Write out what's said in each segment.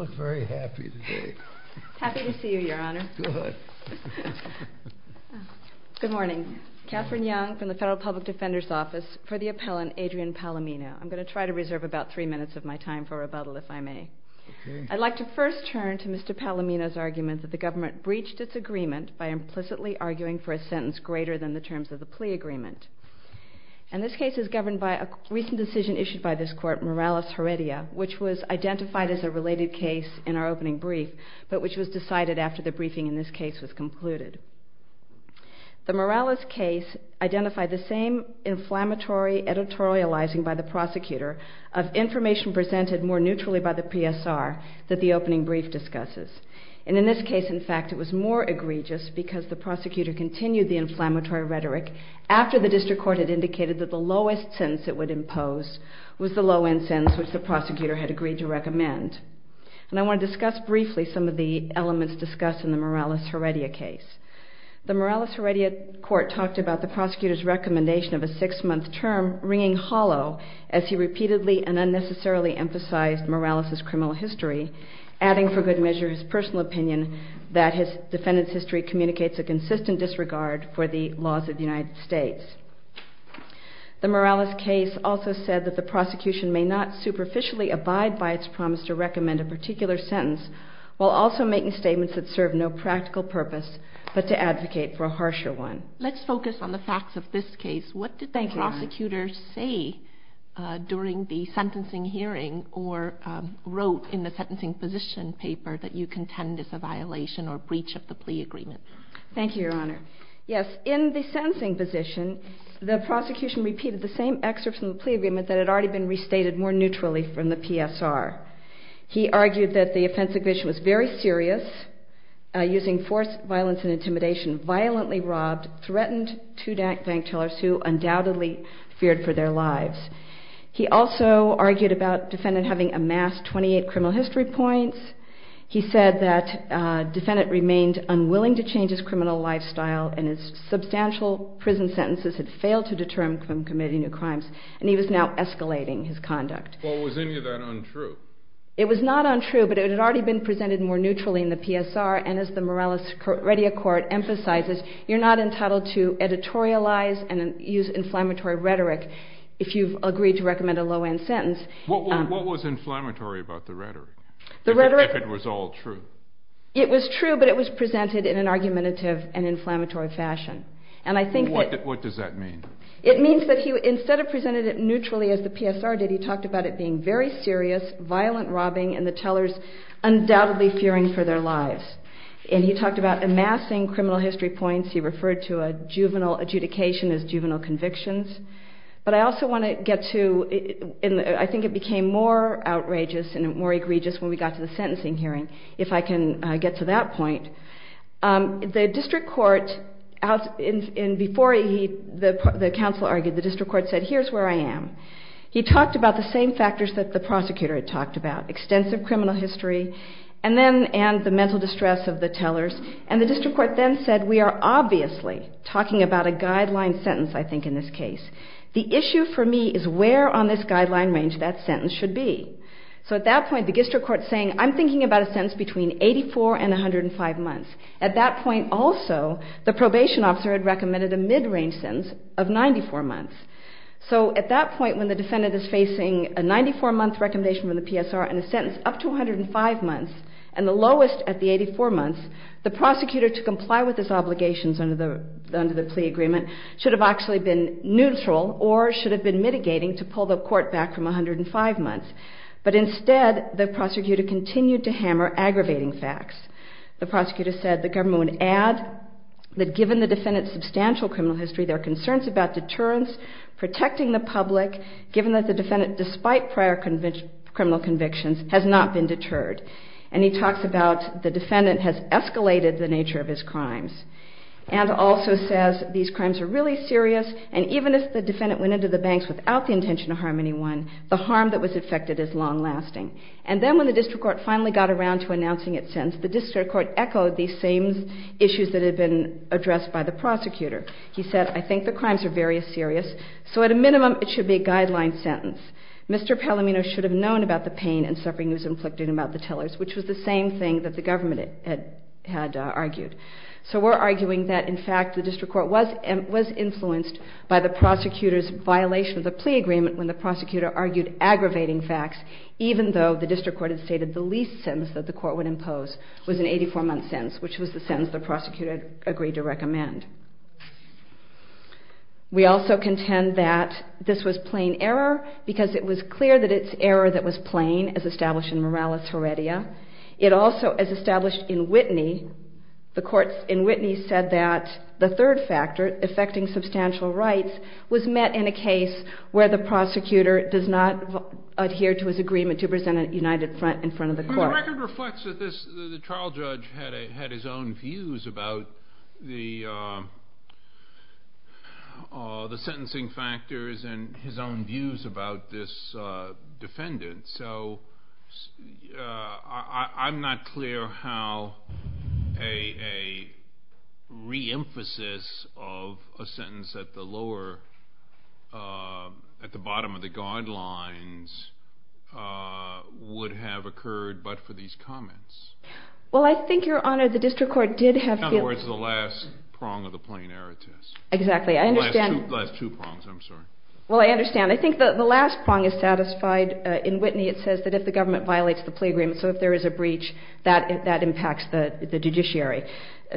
I'd like to first turn to Mr. Palomino's argument that the government breached its agreement by implicitly arguing for a sentence greater than the terms of the plea agreement. And this case is governed by a recent decision issued by this court, Morales-Heredia, which was identified as a related case in our opening brief, but which was decided after the briefing in this case was concluded. The Morales case identified the same inflammatory editorializing by the prosecutor of information presented more neutrally by the PSR that the opening brief discusses. And in this case, in fact, it was more egregious because the prosecutor continued the inflammatory rhetoric after the district court had indicated that the lowest sentence it would impose was the low-end sentence which the prosecutor had agreed to recommend. And I want to discuss briefly some of the elements discussed in the Morales-Heredia case. The Morales-Heredia court talked about the prosecutor's recommendation of a six-month term ringing hollow as he repeatedly and unnecessarily emphasized Morales' criminal history, adding for good measure his personal opinion that his defendant's history communicates a consistent disregard for the laws of the United States. The Morales case also said that the prosecution may not superficially abide by its promise to recommend a particular sentence while also making statements that serve no practical purpose but to advocate for a harsher one. Let's focus on the facts of this case. What did the prosecutor say during the sentencing hearing or wrote in the sentencing position paper that you contend is a violation or breach of the plea agreement? Thank you, Your Honor. Yes, in the sentencing position, the prosecution repeated the same excerpts from the plea agreement that had already been restated more neutrally from the PSR. He argued that the offensive condition was very serious, using force, violence, and intimidation, violently robbed, threatened two bank tellers who undoubtedly feared for their lives. He also argued about defendant having amassed 28 criminal history points. He said that defendant remained unwilling to change his criminal lifestyle and his substantial prison sentences had failed to deter him from committing new crimes. And he was now escalating his conduct. Well, was any of that untrue? It was not untrue, but it had already been presented more neutrally in the PSR. And as the Morales-Reddia Court emphasizes, you're not entitled to editorialize and use inflammatory rhetoric if you've agreed to recommend a low-end sentence. What was inflammatory about the rhetoric? If it was all true? It was true, but it was presented in an argumentative and inflammatory fashion. And I think that... What does that mean? It means that he, instead of presenting it neutrally as the PSR did, he talked about it being very serious, violent robbing, and the tellers undoubtedly fearing for their lives. And he talked about amassing criminal history points. He referred to a juvenile adjudication as juvenile convictions. But I also want to get to, and I think it became more outrageous and more egregious when we got to the sentencing hearing, if I can get to that point. The district court, and before he, the counsel argued, the district court said, here's where I am. He talked about the same factors that the prosecutor had talked about, extensive criminal history, and then, and the mental distress of the tellers. And the district court then said, we are obviously talking about a guideline sentence, I think, in this case. The issue for me is where on this guideline range that sentence should be. So at that point, the district court is saying, I'm thinking about a sentence between 84 and 105 months. At that point, also, the probation officer had recommended a mid-range sentence of 94 months. So at that point, when the defendant is facing a 94-month recommendation from the PSR and a sentence up to 105 months, and the lowest at the 84 months, the prosecutor to comply with his obligations under the plea agreement should have actually been neutral or should have been mitigating to pull the court back from 105 months. But instead, the prosecutor continued to hammer aggravating facts. The prosecutor said the government would add that given the defendant's substantial criminal history, there are concerns about deterrence, protecting the public, given that the defendant, despite prior criminal convictions, has not been deterred. And he talks about the defendant has escalated the nature of his crimes. And also says these crimes are really serious, and even if the defendant went to the banks without the intention to harm anyone, the harm that was affected is long-lasting. And then when the district court finally got around to announcing its sentence, the district court echoed these same issues that had been addressed by the prosecutor. He said, I think the crimes are very serious, so at a minimum it should be a guideline sentence. Mr. Palamino should have known about the pain and suffering he was inflicting about the tellers, which was the same thing that the government had argued. So we're arguing that, in fact, the district court was influenced by the prosecutor's violation of the plea agreement when the prosecutor argued aggravating facts, even though the district court had stated the least sentence that the court would impose was an 84-month sentence, which was the sentence the prosecutor had agreed to recommend. We also contend that this was plain error, because it was clear that it's error that was plain, as established in Morales Heredia. It also, as established in Whitney, the courts in Whitney said that the third factor, affecting substantial rights, was met in a case where the prosecutor does not adhere to his agreement to present a united front in front of the court. The record reflects that the trial judge had his own views about the sentencing factors and his own views about this defendant. So I'm not clear how a re-emphasis of a sentence at the lower, at the bottom of the guidelines, would have occurred but for these comments. Well, I think, Your Honor, the district court did have feelings. In other words, the last prong of the plain error test. Exactly. I understand. The last two prongs, I'm sorry. Well, I understand. I think the last prong is satisfied in Whitney. It says that if the government violates the plea agreement, so if there is a breach, that impacts the judiciary.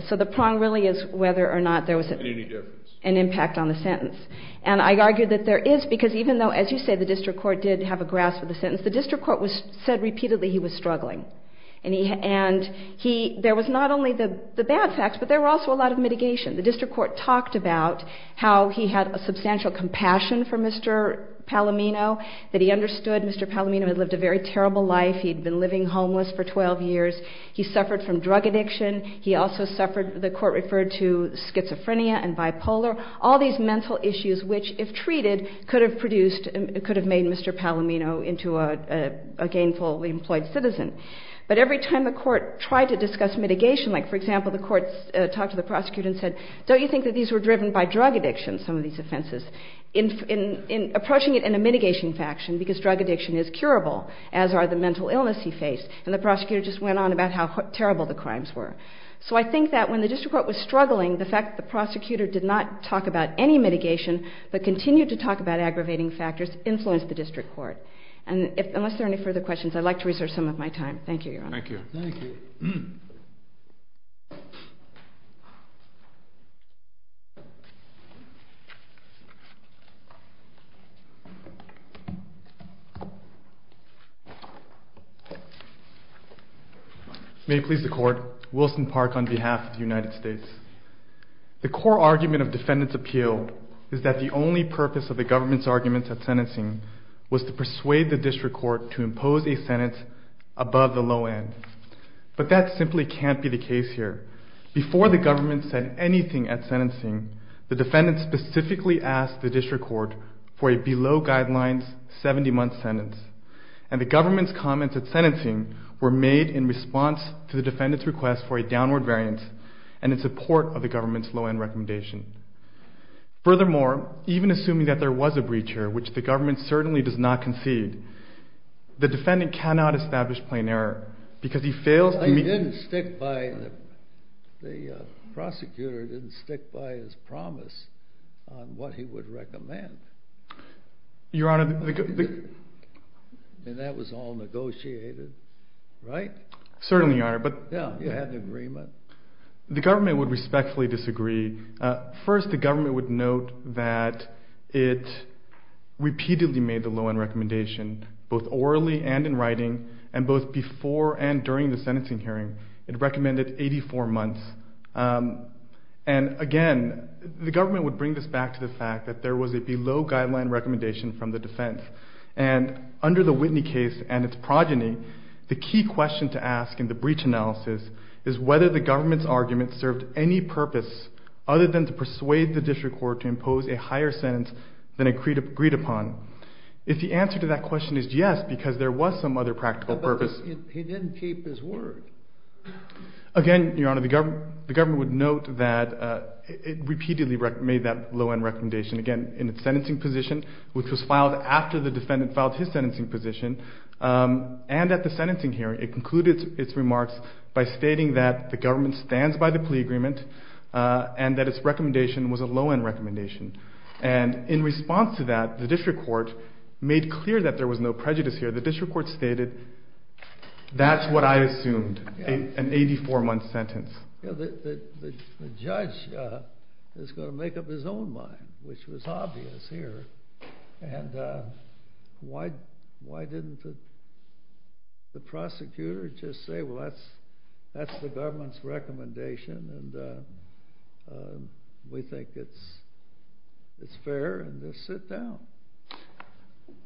So the prong really is whether or not there was an impact on the sentence. And I argue that there is, because even though, as you say, the district court did have a grasp of the sentence, the district court said repeatedly he was struggling. And there was not only the bad facts, but there were also a lot of mitigation. The district court talked about how he had a substantial compassion for Mr. Palomino, that he understood Mr. Palomino had lived a very terrible life. He had been living homeless for 12 years. He suffered from drug addiction. He also suffered, the court referred to schizophrenia and bipolar. All these mental issues which, if treated, could have produced, could have made Mr. Palomino into a gainfully employed citizen. But every time the court tried to discuss mitigation, like, for example, the court talked to the prosecutor and said, don't you think that these were driven by drug addiction, some of these offenses, in approaching it in a mitigation faction, because drug addiction is curable, as are the mental illness he faced. And the prosecutor just went on about how terrible the crimes were. So I think that when the district court was struggling, the fact that the prosecutor did not talk about any mitigation, but continued to talk about aggravating factors, influenced the district court. And unless there are any further questions, I'd like to reserve some of my time. Thank you, Your Honor. Thank you. Thank you. May it please the court, Wilson Park on behalf of the United States. The core argument of defendant's appeal is that the only purpose of the government's argument at sentencing was to persuade the district court to impose a sentence above the low end. But that simply can't be the case here. Before the government said anything at sentencing, the defendant specifically asked the district court for a below guidelines 70-month sentence. And the government's comments at sentencing were made in response to the defendant's request for a downward variance and in support of the government's low-end recommendation. Furthermore, even assuming that there was a breach here, which the government certainly does not concede, the defendant cannot establish plain error because he fails to meet. He didn't stick by the prosecutor. He didn't stick by his promise on what he would recommend. Your Honor. And that was all negotiated, right? Certainly, Your Honor. Yeah, you had an agreement. The government would respectfully disagree. First, the government would note that it repeatedly made the low-end recommendation, both orally and in writing, and both before and during the sentencing hearing. It recommended 84 months. And again, the government would bring this back to the fact that there was a below guideline recommendation from the defense. And under the Whitney case and its progeny, the key question to ask in the breach analysis is whether the government's argument served any purpose other than to persuade the district court to impose a higher sentence than it agreed upon, if the answer to that question is yes, because there was some other practical purpose. But he didn't keep his word. Again, Your Honor, the government would note that it repeatedly made that low-end recommendation. Again, in its sentencing position, which was filed after the defendant filed his sentencing position, and at the sentencing hearing, it concluded its remarks by stating that the government stands by the plea agreement and that its recommendation was a low-end recommendation. And in response to that, the district court made clear that there was no prejudice here. The district court stated, that's what I assumed, an 84-month sentence. The judge is going to make up his own mind, which was obvious here. And why didn't the prosecutor just say, well, that's the government's recommendation and we think it's fair and just sit down?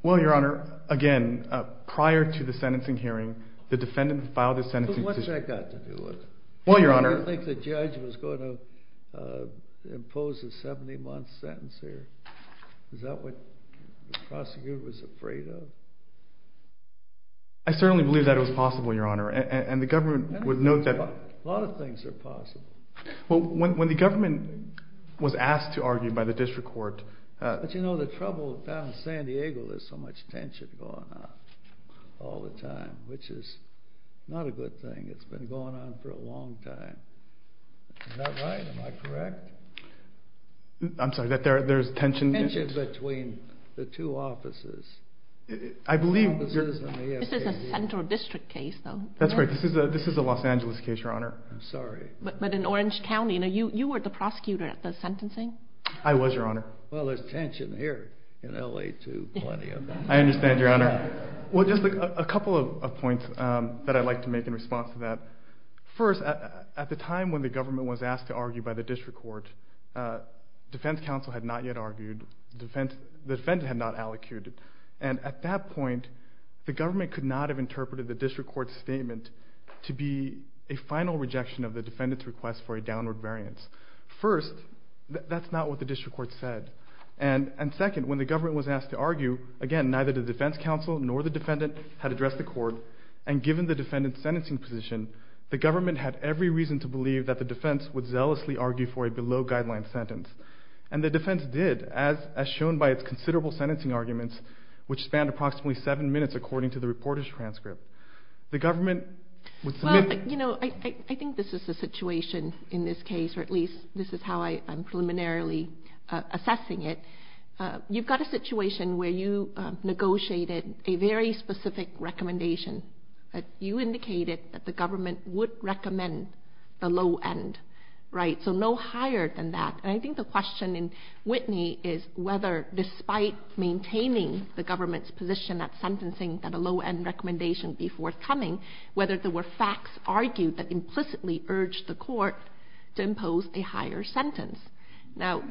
Well, Your Honor, again, prior to the sentencing hearing, the defendant filed his sentencing position. What's that got to do with it? Well, Your Honor. I don't think the judge was going to impose a 70-month sentence here. Is that what the prosecutor was afraid of? I certainly believe that it was possible, Your Honor. And the government would note that. A lot of things are possible. Well, when the government was asked to argue by the district court. But you know, the trouble down in San Diego, there's so much tension going on all the time, which is not a good thing. It's been going on for a long time. Is that right? Am I correct? I'm sorry, that there's tension? Tension between the two offices. I believe. This is a central district case, though. That's right. This is a Los Angeles case, Your Honor. I'm sorry. But in Orange County, you know, you were the prosecutor at the sentencing. I was, Your Honor. Well, there's tension here in LA, too, plenty of it. I understand, Your Honor. Well, just a couple of points that I'd like to make in response to that. First, at the time when the government was asked to argue by the district court, defense counsel had not yet argued, the defendant had not allocuted. And at that point, the government could not have interpreted the district court's statement to be a final rejection of the defendant's request for a downward variance. First, that's not what the district court said. And second, when the government was asked to argue, again, neither the defense counsel nor the defendant had addressed the court, and given the defendant's the government had every reason to believe that the defense would zealously argue for a below-guideline sentence. And the defense did, as shown by its considerable sentencing arguments, which spanned approximately seven minutes, according to the reporter's transcript. The government would submit... Well, you know, I think this is the situation in this case, or at least this is how I am preliminarily assessing it. You've got a situation where you negotiated a very specific recommendation. You indicated that the government would recommend the low end, right? So no higher than that. And I think the question in Whitney is whether, despite maintaining the government's position at sentencing that a low-end recommendation be forthcoming, whether there were facts argued that implicitly urged the court to impose a higher sentence. Now,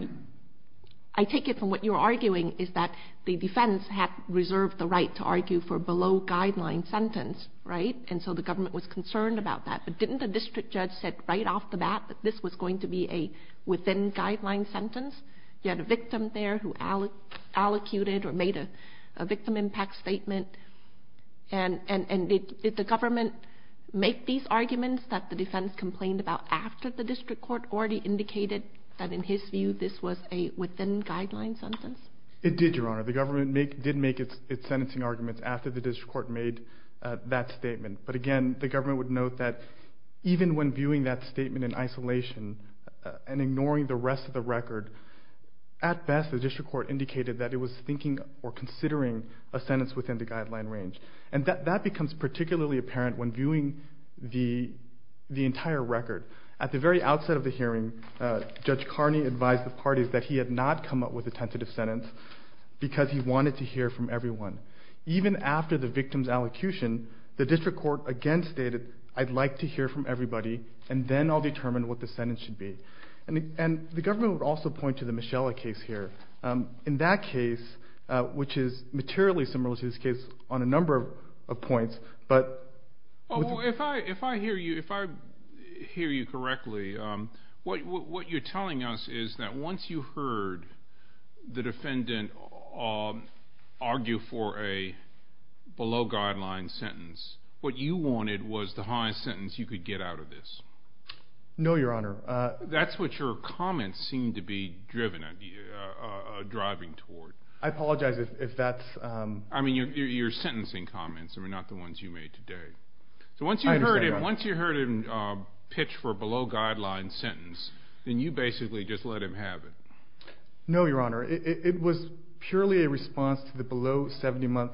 I take it from what you're arguing is that the defense had reserved the right to argue for a below-guideline sentence, right? And so the government was concerned about that. But didn't the district judge said right off the bat that this was going to be a within-guideline sentence? You had a victim there who allocated or made a victim impact statement. And did the government make these arguments that the defense complained about after the district court already indicated that, in his view, this was a within-guideline sentence? It did, Your Honor. The government did make its sentencing arguments after the district court made that statement. But again, the government would note that even when viewing that statement in isolation and ignoring the rest of the record, at best, the district court indicated that it was thinking or considering a sentence within the guideline range. And that becomes particularly apparent when viewing the entire record. At the very outset of the hearing, Judge Carney advised the parties that he had not come up with a tentative sentence because he wanted to hear from everyone. Even after the victim's allocution, the district court again stated, I'd like to hear from everybody, and then I'll determine what the sentence should be. And the government would also point to the Michella case here. In that case, which is materially similar to this case on a number of points, but... Well, if I hear you correctly, what you're telling us is that once you heard the defendant argue for a below-guideline sentence, what you wanted was the highest sentence you could get out of this. No, Your Honor. That's what your comments seem to be driving toward. I apologize if that's... I mean, your sentencing comments are not the ones you made today. So once you heard him pitch for a below-guideline sentence, then you basically just let him have it. No, Your Honor. It was purely a response to the below 70-month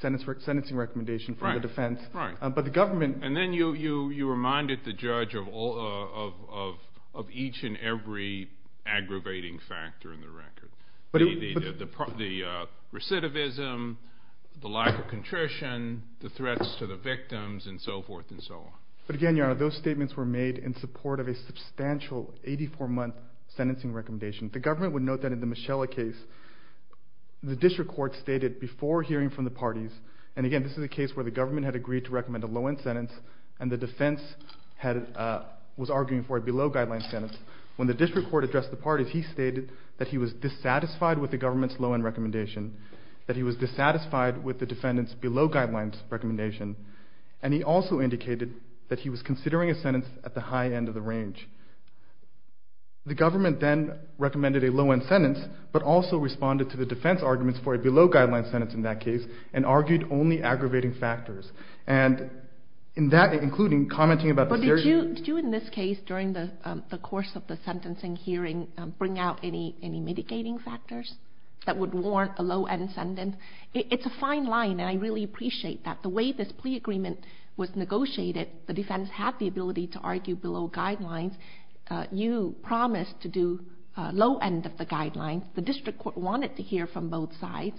sentencing recommendation from the defense, but the government... And then you reminded the judge of each and every aggravating factor in the record. The recidivism, the lack of contrition, the threats to the victims, and so forth and so on. But again, Your Honor, those statements were made in support of a substantial 84-month sentencing recommendation. The government would note that in the Michelle case, the district court stated before hearing from the parties, and again, this is a case where the government had agreed to recommend a low-end sentence, and the defense was arguing for a below-guideline sentence. When the district court addressed the parties, he stated that he was dissatisfied with the government's low-end recommendation, that he was dissatisfied with the defendant's below-guidelines recommendation, and he also indicated that he was considering a sentence at the high end of the range. The government then recommended a low-end sentence, but also responded to the defense arguments for a below-guideline sentence in that case, and argued only aggravating factors. And in that, including commenting about the... But did you, in this case, during the course of the sentencing hearing bring out any mitigating factors that would warrant a low-end sentence? It's a fine line, and I really appreciate that. The way this plea agreement was negotiated, the defense had the ability to argue below guidelines, you promised to do low-end of the guidelines. The district court wanted to hear from both sides,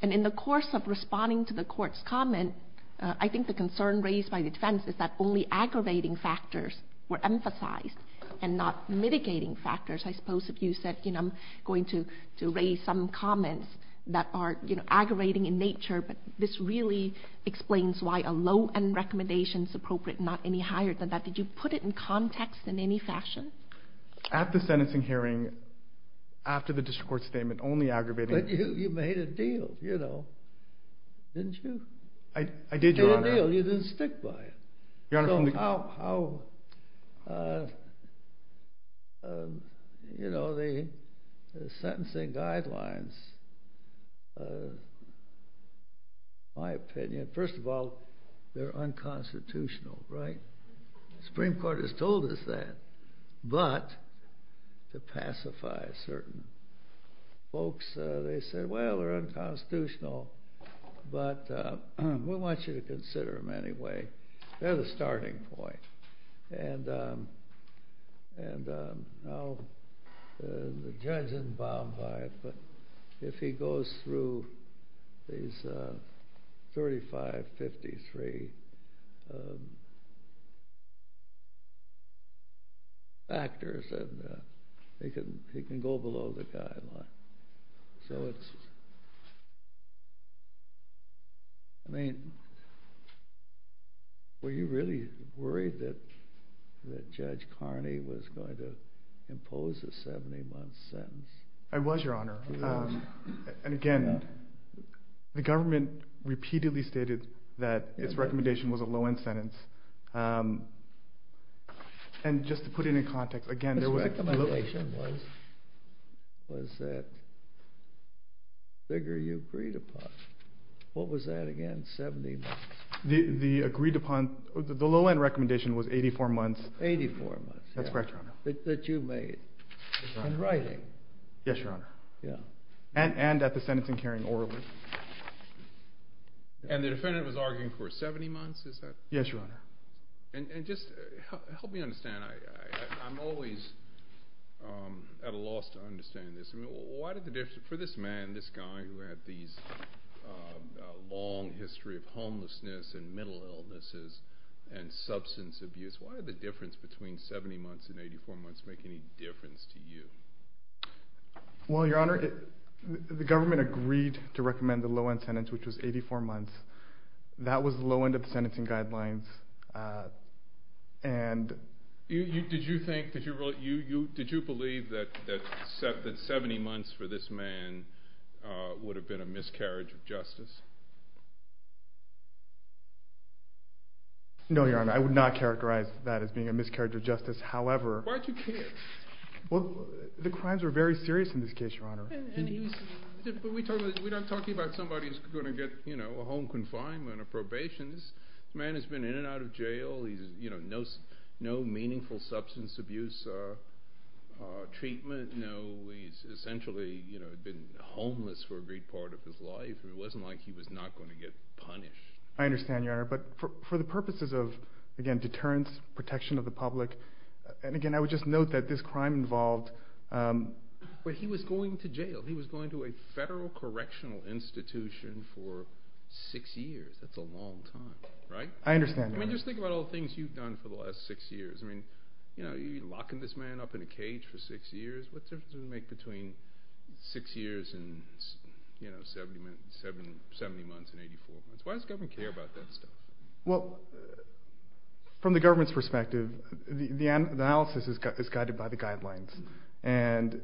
and in the course of responding to the court's comment, I think the concern raised by the defense is that only aggravating factors were emphasized, and not mitigating factors. I suppose if you said, you know, I'm going to raise some comments that are, you know, aggravating in nature, but this really explains why a low-end recommendation is appropriate, not any higher than that. Did you put it in context in any fashion? At the sentencing hearing, after the district court's statement, only aggravating... But you made a deal, you know, didn't you? I did, Your Honor. You made a deal, you didn't stick by it. Your Honor, from the... So how, you know, the sentencing guidelines, in my opinion, first of all, they're unconstitutional, right? Supreme Court has told us that, but to pacify certain folks, they said, well, they're unconstitutional, but we want you to consider them anyway. They're the starting point, and now the judge isn't bound by it, but if he goes through these 35, 53 factors, he can go below the guideline. So it's, I mean, were you really worried that Judge Carney was going to impose a 70-month sentence? I was, Your Honor. And again, the government repeatedly stated that its recommendation was a low-end sentence, and just to put it in context, again, there was... This recommendation was that figure you agreed upon. What was that again, 70 months? The agreed upon, the low-end recommendation was 84 months. Eighty-four months. That's correct, Your Honor. That you made in writing. Yes, Your Honor. Yeah. And at the sentencing hearing orderly. And the defendant was arguing for 70 months, is that... Yes, Your Honor. And just help me understand, I'm always at a loss to understand this. I mean, why did the difference... For this man, this guy who had these long history of homelessness and mental illnesses and substance abuse, why did the difference between 70 months and 84 months make any difference to you? Well, Your Honor, the government agreed to recommend the low-end sentence, which was 84 months, that was the low-end of the sentencing guidelines, and... Did you think, did you believe that 70 months for this man would have been a miscarriage of justice? No, Your Honor, I would not characterize that as being a miscarriage of justice. However... Why did you care? Well, the crimes were very serious in this case, Your Honor. And he was... But we're not talking about somebody who's going to get, you know, a home confinement or probation. This man has been in and out of jail. He's, you know, no meaningful substance abuse treatment. No, he's essentially, you know, been homeless for a great part of his life. It wasn't like he was not going to get punished. I understand, Your Honor. But for the purposes of, again, deterrence, protection of the public. And again, I would just note that this crime involved... But he was going to jail. He was going to a federal correctional institution for six years. That's a long time, right? I understand, Your Honor. I mean, just think about all the things you've done for the last six years. I mean, you know, you're locking this man up in a cage for six years. What difference does it make between six years and, you know, 70 months and 84 months? Why does the government care about that stuff? Well, from the government's perspective, the analysis is guided by the guidelines. And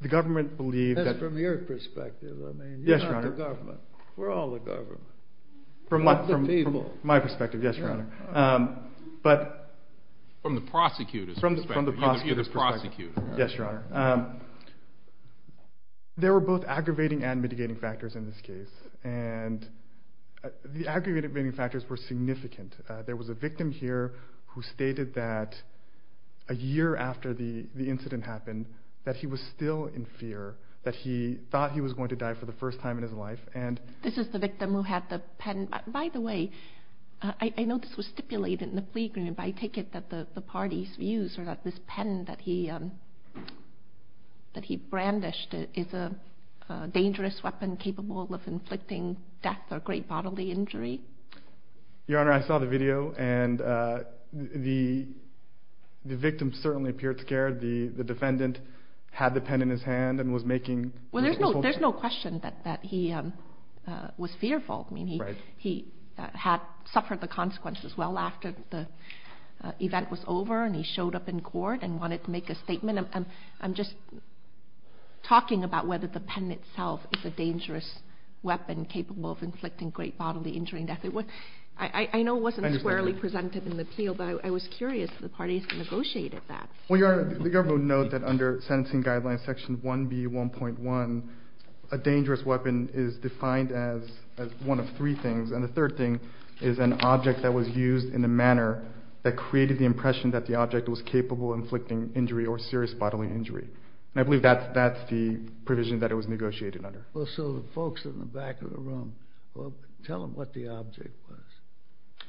the government believed that... As from your perspective, I mean, you're not the government. We're all the government. From my perspective, yes, Your Honor. But... From the prosecutor's perspective. From the prosecutor's perspective. Yes, Your Honor. There were both aggravating and mitigating factors in this case. And the aggravating factors were significant. There was a victim here who stated that a year after the incident happened, that he was still in fear, that he thought he was going to die for the first time in his life. And... This is the victim who had the pen. By the way, I know this was stipulated in the plea agreement, but I take it that the party's views are that this pen that he brandished is a dangerous weapon capable of inflicting death or great bodily injury? Your Honor, I saw the video and the victim certainly appeared scared. The defendant had the pen in his hand and was making... Well, there's no question that he was fearful. I mean, he had suffered the consequences well after the event was over and he showed up in court and wanted to make a statement. I'm just talking about whether the pen itself is a dangerous weapon capable of inflicting great bodily injury. I know it wasn't squarely presented in the appeal, but I was curious if the party has negotiated that. Well, Your Honor, the government noted that under sentencing guidelines section 1B1.1, a dangerous weapon is defined as one of three things. And the third thing is an object that was used in a manner that created the impression that the object was capable of inflicting injury or serious bodily injury. And I believe that's the provision that it was negotiated under. Well, so the folks in the back of the room, tell them what the object was.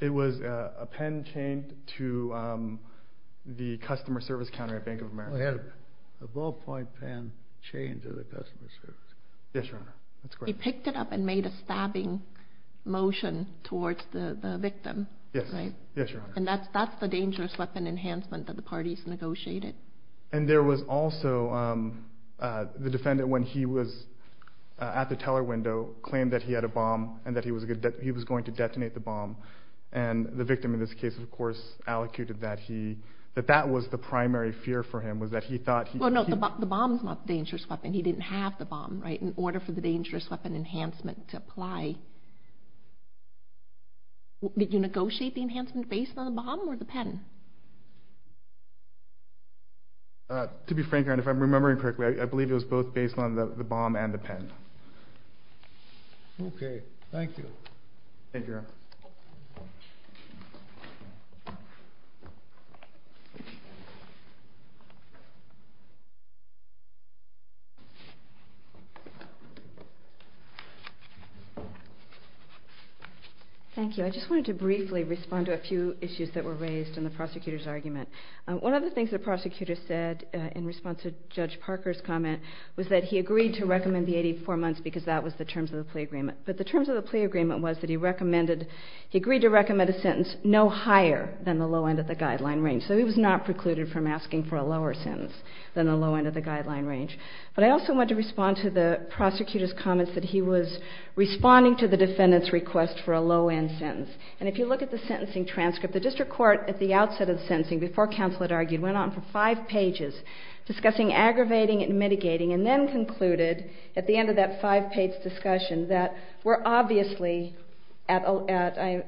It was a pen chained to the customer service counter at Bank of America. It had a ballpoint pen chained to the customer service counter. Yes, Your Honor. He picked it up and made a stabbing motion towards the victim, right? Yes, Your Honor. And that's the dangerous weapon enhancement that the parties negotiated. And there was also the defendant, when he was at the teller window, claimed that he had a bomb and that he was going to detonate the bomb. And the victim, in this case, of course, allocated that that was the primary fear for him, was that he thought he could- Well, no, the bomb's not the dangerous weapon. He didn't have the bomb, right? In order for the dangerous weapon enhancement to apply, did you negotiate the enhancement based on the bomb or the pen? To be frank, Your Honor, if I'm remembering correctly, I believe it was both based on the bomb and the pen. Thank you, Your Honor. Thank you. I just wanted to briefly respond to a few issues that were raised in the prosecutor's argument. One of the things the prosecutor said in response to Judge Parker's comment was that he agreed to recommend the 84 months because that was the terms of the plea agreement. But the terms of the plea agreement was that he agreed to recommend a sentence no higher than the low end of the guideline range. So he was not precluded from asking for a lower sentence than the low end of the guideline range. But I also want to respond to the prosecutor's comments that he was responding to the defendant's request for a low end sentence. And if you look at the sentencing transcript, the district court at the outset of the sentencing, before counsel had argued, went on for five pages discussing aggravating and mitigating, and then concluded at the end of that five page discussion that we're obviously talking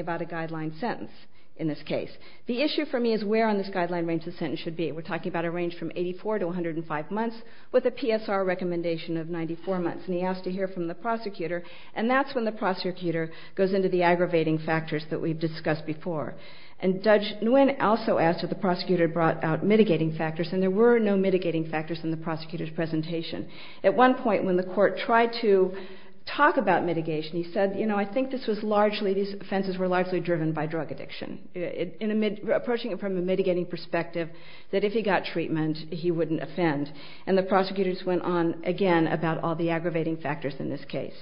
about a guideline sentence in this case. The issue for me is where on this guideline range the sentence should be. We're talking about a range from 84 to 105 months with a PSR recommendation of 94 months. And he asked to hear from the prosecutor. And that's when the prosecutor goes into the aggravating factors that we've discussed before. And Judge Nguyen also asked if the prosecutor brought out mitigating factors. And there were no mitigating factors in the prosecutor's presentation. At one point when the court tried to talk about mitigation, he said, you know, I think these offenses were largely driven by drug addiction, approaching it from a mitigating perspective that if he got treatment, he wouldn't offend. And the prosecutors went on again about all the aggravating factors in this case.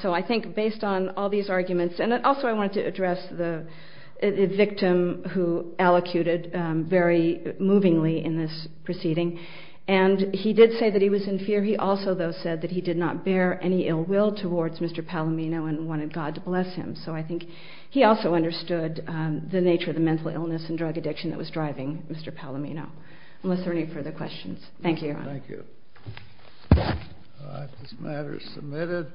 So I think based on all these arguments, and also I wanted to address the victim who allocuted very movingly in this proceeding. And he did say that he was in fear. He also, though, said that he did not bear any ill will towards Mr. Palomino and wanted God to bless him. So I think he also understood the nature of the mental illness and drug addiction that was driving Mr. Palomino, unless there are any further questions. Thank you, Your Honor. Thank you. All right, this matter is submitted.